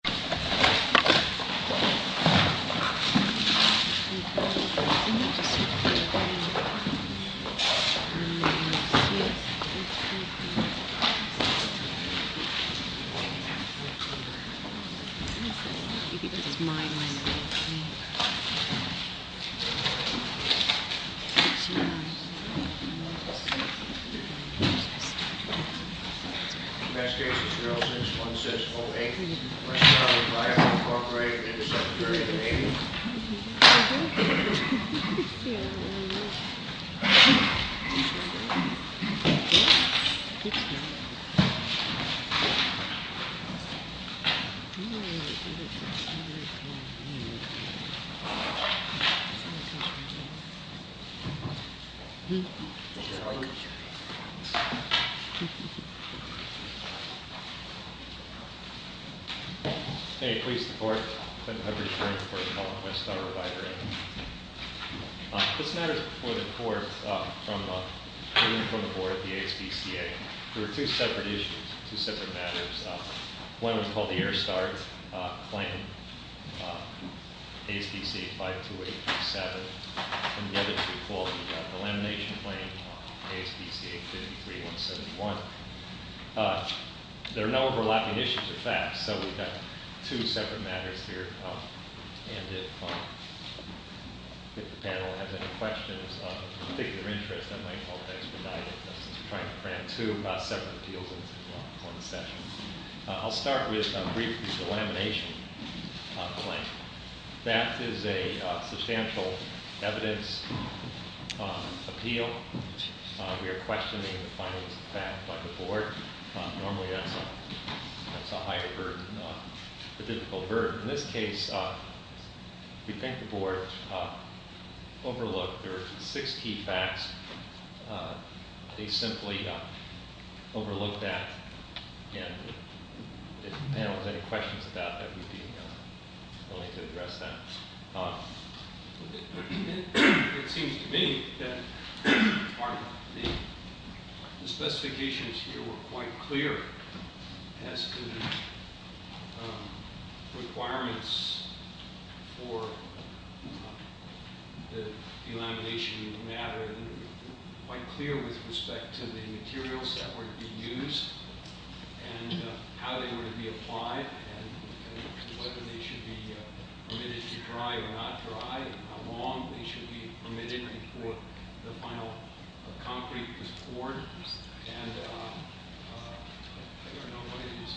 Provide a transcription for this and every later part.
Bella Vista's Blanket Hey, police, the court, Clinton Hubbard, you're in for a call from Westar Revider Aid. This matter is before the court from the board of the ASPCA. There were two separate issues, two separate matters. One was called the Air Start Claim, ASPCA 52827. And the other two called the Elimination Claim, ASPCA 53171. There are no overlapping issues or facts, so we've got two separate matters here. And if the panel has any questions of a particular interest, I might help expedite it, since we're trying to cram two separate appeals into one session. I'll start with briefly the Elimination Claim. That is a substantial evidence appeal. We are questioning the findings of the fact by the board. Normally that's a higher verb, a difficult verb. In this case, we think the board overlooked there were six key facts. They simply overlooked that. And if the panel has any questions about that, we'd be willing to address that. It seems to me that part of the specifications here were quite clear as to requirements for the elimination of the matter, quite clear with respect to the materials that were to be used and how they were to be applied and whether they should be permitted to dry or not dry and how long they should be permitted before the final concrete was poured. And I don't know what it is.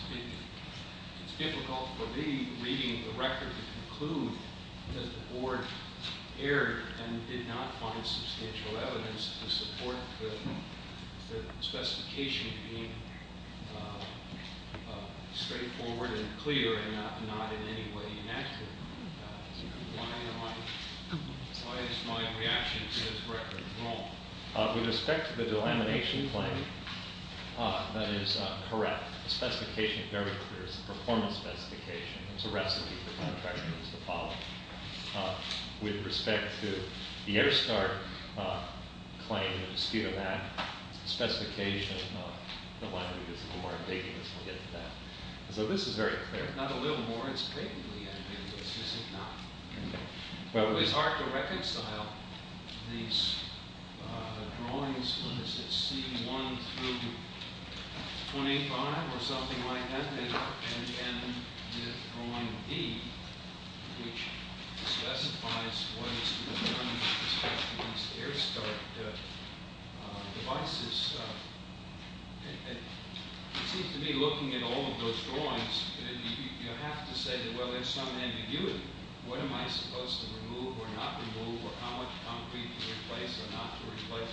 It's difficult for me, reading the record, to conclude that the board erred and did not find substantial evidence to support the specification being straightforward and clear and not in any way inaccurate. Why is my reaction to this record wrong? With respect to the Delamination Claim, that is correct. The specification is very clear. It's a performance specification. It's a recipe for contractors to follow. With respect to the Airstart Claim, the speed of that, the specification, the language is a little more ambiguous. We'll get to that. So this is very clear. Not a little more. It's patently ambiguous, is it not? Okay. Well, it's hard to reconcile these drawings. What is it, C1 through 25 or something like that? And then the drawing D, which specifies what is to be done with respect to these Airstart devices. It seems to me, looking at all of those drawings, you have to say, well, there's some ambiguity. What am I supposed to remove or not remove? How much concrete to replace or not to replace?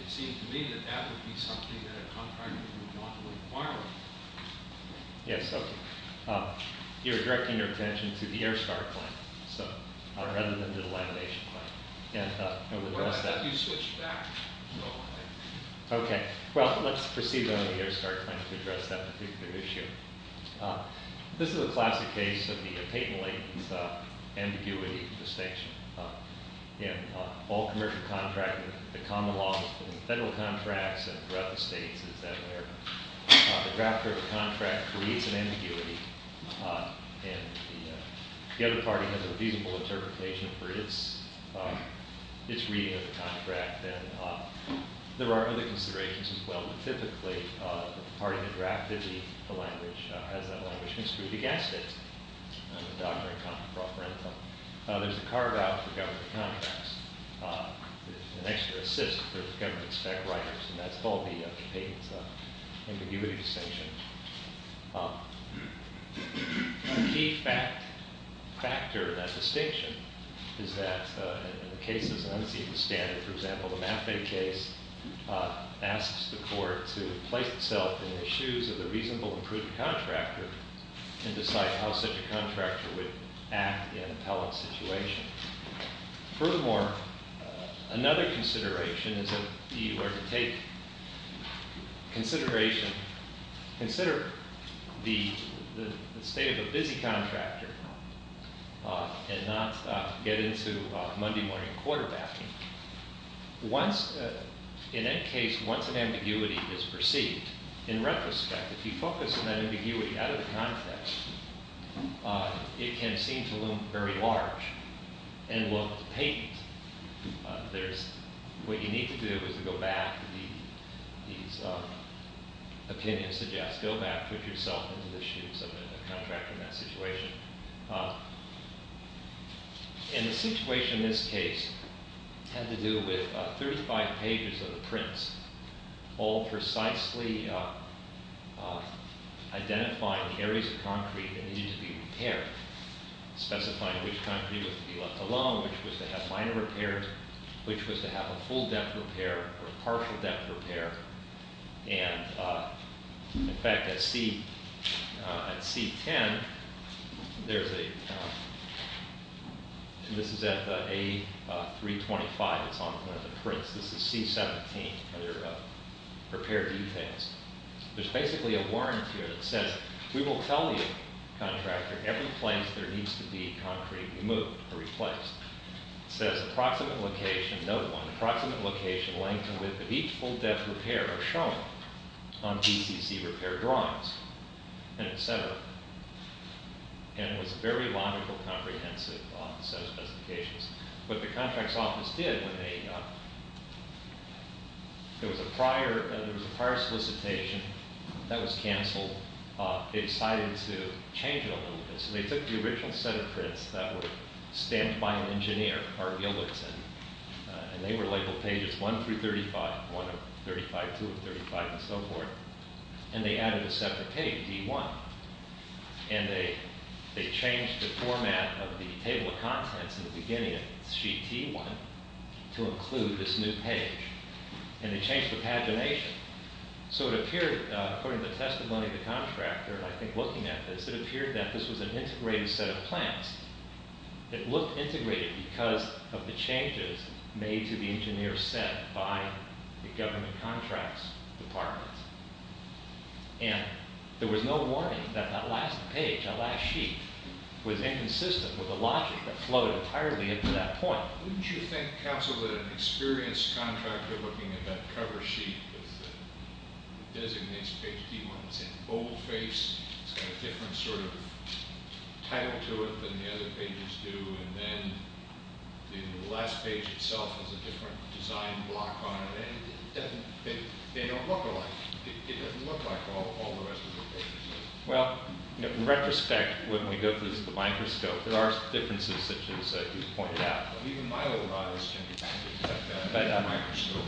It seems to me that that would be something that a contractor would want to require. Yes. You're directing your attention to the Airstart Claim rather than to the Delamination Claim. Well, I thought you switched back. Okay. Well, let's proceed on the Airstart Claim to address that particular issue. This is a classic case of the patently ambiguous distinction. In all commercial contracting, the common law in federal contracts and throughout the states is that the drafter of the contract creates an ambiguity, and the other party has a reasonable interpretation for its reading of the contract. And there are other considerations as well. Typically, the party that drafted the language has that language construed against it. There's a carve-out for government contracts. There's an extra assist for the government spec writers, and that's called the ambiguity distinction. A key factor in that distinction is that in cases of unceasing standard, for example, the Maffei case asks the court to place itself in the shoes of the reasonable and prudent contractor and decide how such a contractor would act in an appellant situation. Furthermore, another consideration is that you are to take consideration, consider the state of a busy contractor and not get into Monday morning quarterbacking. In that case, once an ambiguity is perceived, in retrospect, if you focus on that ambiguity out of the context, it can seem to loom very large and look patent. What you need to do is to go back to these opinions suggest. Go back, put yourself into the shoes of a contractor in that situation. And the situation in this case had to do with 35 pages of the prints, all precisely identifying the areas of concrete that needed to be repaired, specifying which concrete was to be left alone, which was to have minor repairs, which was to have a full depth repair or partial depth repair. And in fact, at C10, there's a, this is at the A325, it's on one of the prints. This is C17, repair details. There's basically a warrant here that says, we will tell you, contractor, every place there needs to be concrete removed or replaced. It says, approximate location, note one, approximate location, length and width of each full depth repair are shown on BCC repair drawings, etc. And it was a very logical, comprehensive set of specifications. What the contract's office did when they, there was a prior solicitation that was canceled. They decided to change it a little bit. So they took the original set of prints that were stamped by an engineer, Art Billington, and they were labeled pages one through 35, one of 35, two of 35, and so forth. And they added a separate page, D1. And they changed the format of the table of contents in the beginning of sheet T1 to include this new page. And they changed the pagination. So it appeared, according to the testimony of the contractor, and I think looking at this, it appeared that this was an integrated set of plans. It looked integrated because of the changes made to the engineer's set by the government contracts department. And there was no warning that that last page, that last sheet, was inconsistent with the logic that flowed entirely into that point. Wouldn't you think, counsel, that an experienced contractor looking at that cover sheet that designates page T1, it's in boldface, it's got a different sort of title to it than the other pages do, and then the last page itself has a different design block on it, and it doesn't, they don't look alike. It doesn't look like all the rest of the pages do. Well, in retrospect, when we go through the microscope, there are differences such as you pointed out. Even my little eyes can detect that in the microscope.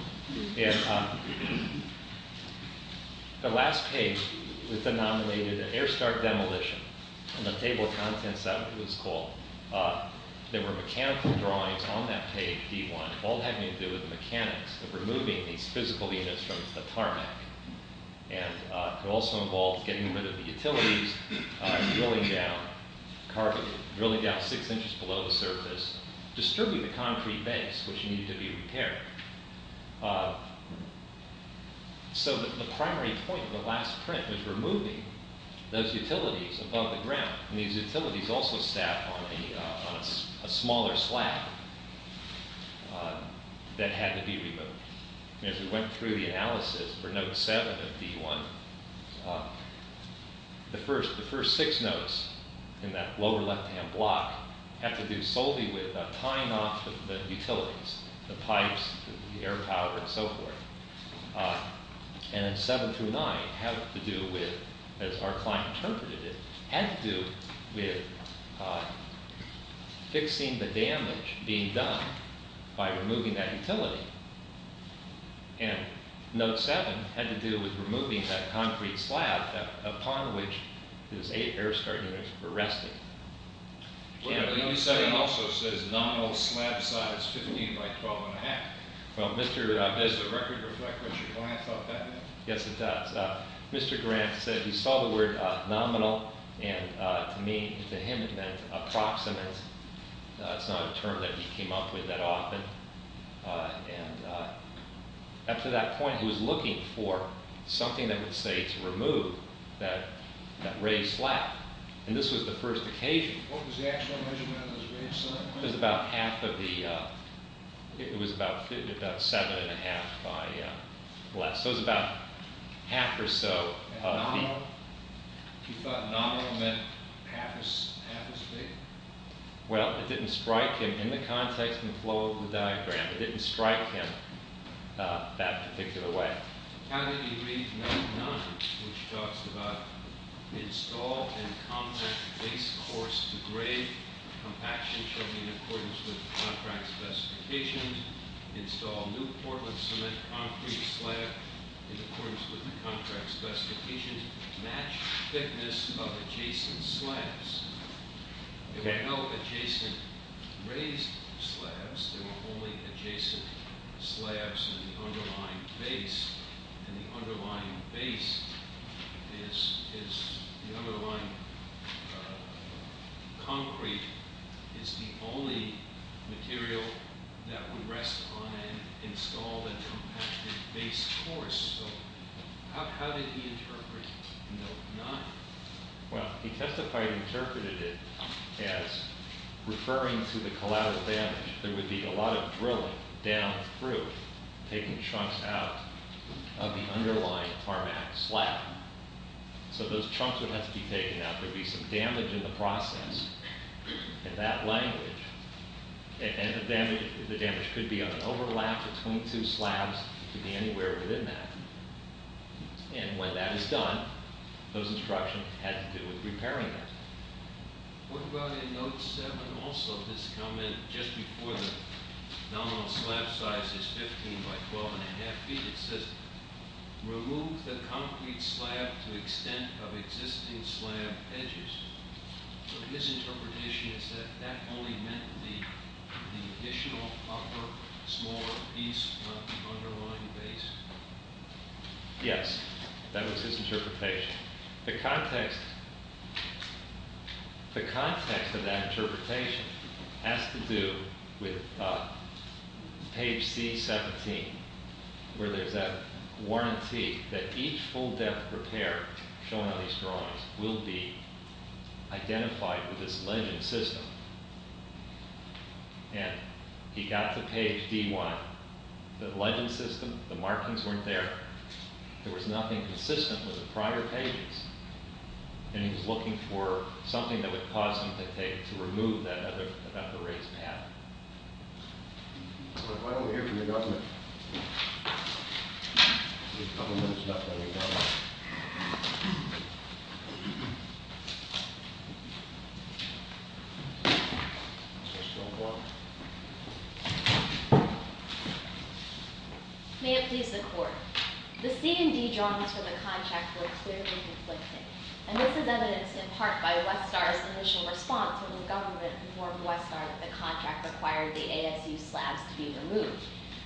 And the last page was denominated an air start demolition, and the table of contents of it was called. There were mechanical drawings on that page, T1, all having to do with the mechanics of removing these physical units from the tarmac. And it also involved getting rid of the utilities, drilling down, distributing the concrete base, which needed to be repaired. So the primary point of the last print was removing those utilities above the ground, and these utilities also sat on a smaller slab that had to be removed. As we went through the analysis for note 7 of D1, the first six notes in that lower left-hand block had to do solely with tying off the utilities, the pipes, the air power, and so forth. And then 7 through 9 had to do with, as our client interpreted it, had to do with fixing the damage being done by removing that utility. And note 7 had to do with removing that concrete slab upon which those eight air start units were resting. Note 7 also says nominal slab size 15 by 12 and a half. Does the record reflect what your client thought that meant? Yes, it does. Mr. Grant said he saw the word nominal, and to me, to him, it meant approximate. It's not a term that he came up with that often. And up to that point, he was looking for something that would say it's removed, that raised slab. And this was the first occasion. What was the actual measurement of the raised slab? It was about 7 and a half by less. So it was about half or so feet. He thought nominal meant half his feet? Well, it didn't strike him in the context and flow of the diagram. It didn't strike him that particular way. How did he read 9.9, which talks about install and compact base course to grade, compaction shown in accordance with contract specifications, install new Portland cement concrete slab in accordance with the contract specifications, matched thickness of adjacent slabs. There were no adjacent raised slabs. There were only adjacent slabs in the underlying base. And the underlying base is the underlying concrete is the only material that would rest on an installed and compacted base course. How did he interpret 9? Well, he testified and interpreted it as referring to the collateral damage. There would be a lot of drilling down through, taking chunks out of the underlying tarmac slab. So those chunks would have to be taken out. There would be some damage in the process in that language. And the damage could be on an overlap between two slabs. It could be anywhere within that. And when that is done, those instructions had to do with repairing it. What about in note 7 also, this comment just before the nominal slab size is 15 by 12 and a half feet, it says remove the concrete slab to extent of existing slab edges. So his interpretation is that that only meant the additional upper smaller piece of the underlying base. Yes, that was his interpretation. The context of that interpretation has to do with page C17, where there's that warranty that each full depth repair shown on these drawings will be identified with this legend system. And he got to page D1. The legend system, the markings weren't there. There was nothing consistent with the prior pages. And he was looking for something that would cause him to take, to remove that upper raised pattern. Why don't we hear from the government? May it please the court. The C and D drawings from the contract were clearly conflicted. And this is evidenced in part by Westar's initial response when the government informed Westar that the contract required the ASU slabs to be removed.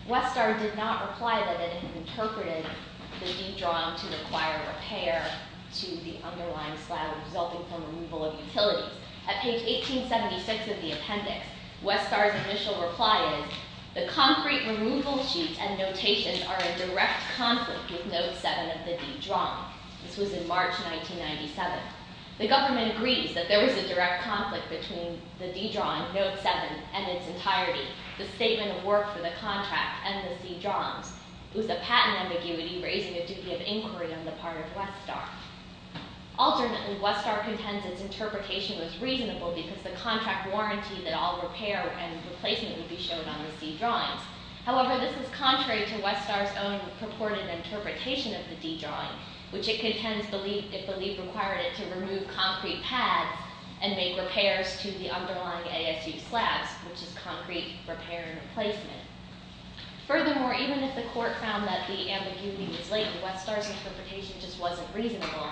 Westar did not reply that it had interpreted the D drawing to require repair to the underlying slab resulting from removal of utilities. At page 1876 of the appendix, Westar's initial reply is, the concrete removal sheets and notations are in direct conflict with note 7 of the D drawing. This was in March 1997. The government agrees that there was a direct conflict between the D drawing, note 7, and its entirety, the statement of work for the contract, and the C drawings. It was a patent ambiguity raising a duty of inquiry on the part of Westar. Alternately, Westar contends its interpretation was reasonable because the contract warranted that all repair and replacement would be shown on the C drawings. However, this is contrary to Westar's own purported interpretation of the D drawing, which it contends it believed required it to remove concrete pads and make repairs to the underlying ASU slabs, which is concrete repair and replacement. Furthermore, even if the court found that the ambiguity was latent, Westar's interpretation just wasn't reasonable.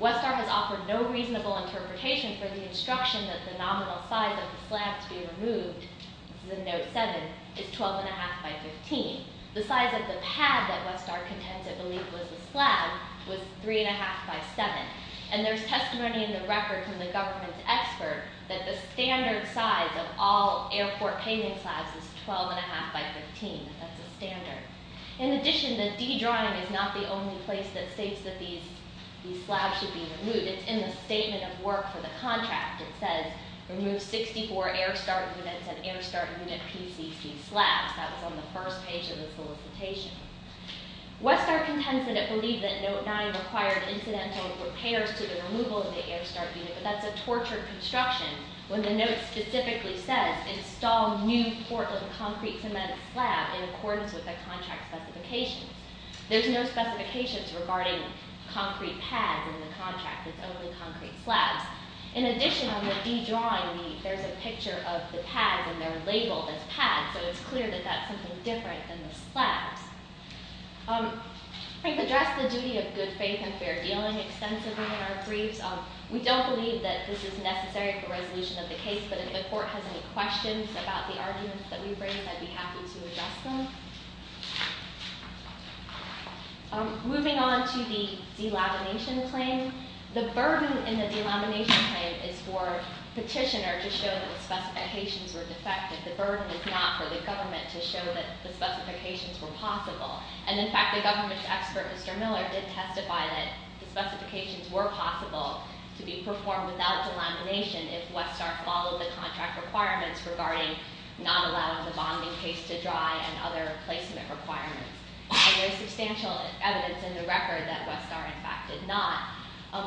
Westar has offered no reasonable interpretation for the instruction that the nominal size of the slab to be removed, this is in note 7, is 12 1⁄2 by 15. The size of the pad that Westar contends it believed was the slab was 3 1⁄2 by 7. And there's testimony in the record from the government's expert that the standard size of all airport paving slabs is 12 1⁄2 by 15. That's the standard. In addition, the D drawing is not the only place that states that these slabs should be removed. It's in the statement of work for the contract. It says remove 64 Airstart units and Airstart unit PCC slabs. That was on the first page of the solicitation. Westar contends that it believed that note 9 required incidental repairs to the removal of the Airstart unit, but that's a tortured construction when the note specifically says install new Portland concrete cement slab in accordance with the contract specifications. There's no specifications regarding concrete pads in the contract. It's only concrete slabs. In addition, on the D drawing, there's a picture of the pads and they're labeled as pads, so it's clear that that's something different than the slabs. I think to address the duty of good faith and fair dealing extensively in our briefs, we don't believe that this is necessary for resolution of the case, but if the court has any questions about the arguments that we bring, I'd be happy to address them. Moving on to the delamination claim, the burden in the delamination claim is for petitioner to show that the specifications were defective. The burden is not for the government to show that the specifications were possible, and in fact, the government's expert, Mr. Miller, did testify that the specifications were possible to be performed without delamination if Westar followed the contract requirements regarding not allowing the bonding case to dry and other placement requirements. There's substantial evidence in the record that Westar, in fact, did not.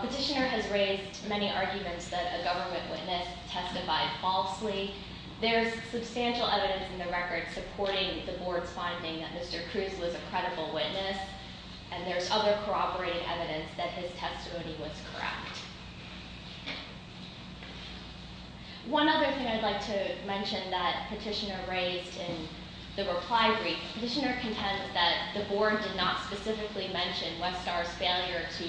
Petitioner has raised many arguments that a government witness testified falsely. There's substantial evidence in the record supporting the board's finding that Mr. Cruz was a credible witness, and there's other corroborating evidence that his testimony was correct. One other thing I'd like to mention that petitioner raised in the reply brief, petitioner contends that the board did not specifically mention Westar's failure to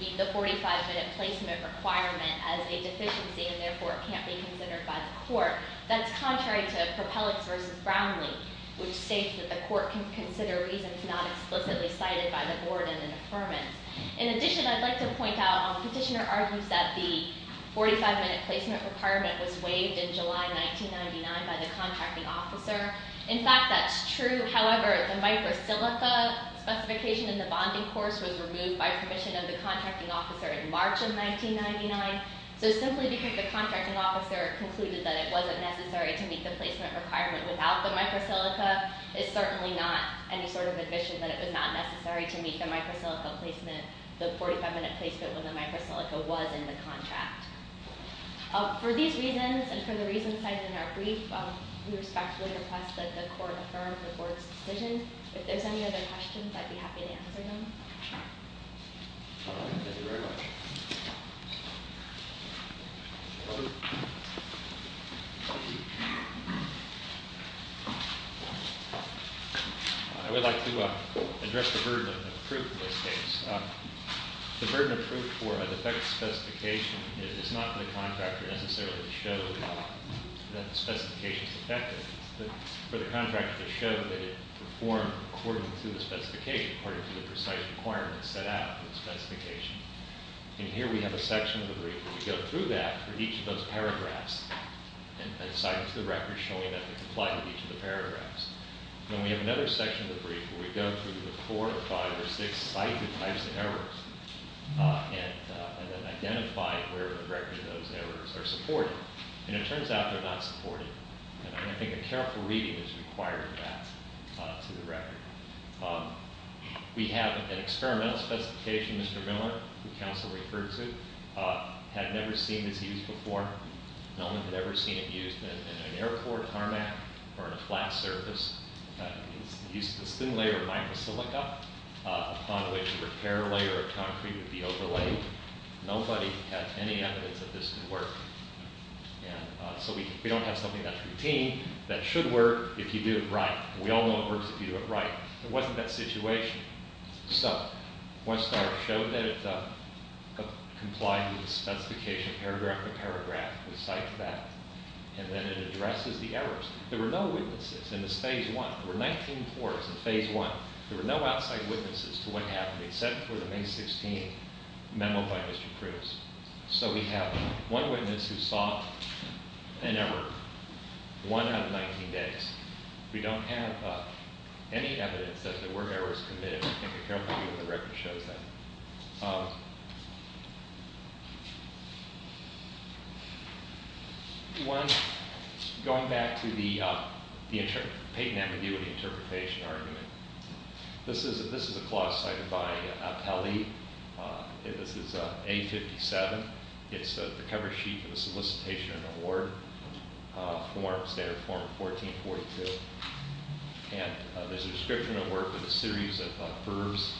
meet the 45-minute placement requirement as a deficiency, and therefore, it can't be considered by the court. That's contrary to Propellix v. Brownlee, which states that the court can consider reasons not explicitly cited by the board in an affirmance. In addition, I'd like to point out, petitioner argues that the 45-minute placement requirement was waived in July 1999 by the contracting officer. In fact, that's true. However, the micro silica specification in the bonding course was removed by permission of the contracting officer in March of 1999. So simply because the contracting officer concluded that it wasn't necessary to meet the placement requirement without the micro silica is certainly not any sort of admission that it was not necessary to meet the micro silica placement, the 45-minute placement when the micro silica was in the contract. For these reasons and for the reasons cited in our brief, we respectfully request that the court affirm the board's decision. If there's any other questions, I'd be happy to answer them. All right. Thank you very much. I would like to address the burden of proof in this case. The burden of proof for a defective specification is not for the contractor necessarily to show that the specification is defective, but for the contractor to show that it performed according to the specification, according to the precise requirements set out in the specification. And here we have a section of the brief where we go through that for each of those paragraphs and cite it to the record, showing that they comply with each of the paragraphs. Then we have another section of the brief where we go through the four or five or six cited types of errors and then identify where in the record those errors are supported. And it turns out they're not supported. And I think a careful reading has required that to the record. We have an experimental specification, Mr. Miller, who counsel referred to, had never seen this used before. No one had ever seen it used in an airport tarmac or in a flat surface. It's a thin layer of micro silica upon which a repair layer of concrete would be overlaid. Nobody had any evidence that this could work. And so we don't have something that's routine that should work if you do it right. We all know it works if you do it right. It wasn't that situation. So Westar showed that it complied with the specification, paragraph by paragraph. We cite that. And then it addresses the errors. There were no witnesses in this phase one. There were 19 reports in phase one. There were no outside witnesses to what happened except for the May 16 memo by Mr. Cruz. So we have one witness who saw an error one out of 19 days. We don't have any evidence that there were errors committed. I think a careful view of the record shows that. One, going back to the Peyton ambiguity interpretation argument. This is a clause cited by Apelli. This is A57. It's the cover sheet for the solicitation award form, standard form 1442. And there's a description of work with a series of verbs.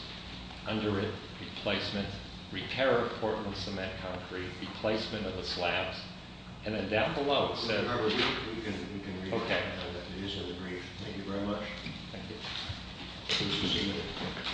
Under it, replacement. Repair of Portland cement concrete. Replacement of the slabs. And then down below it says- Okay. It is in the brief. Thank you very much. Thank you.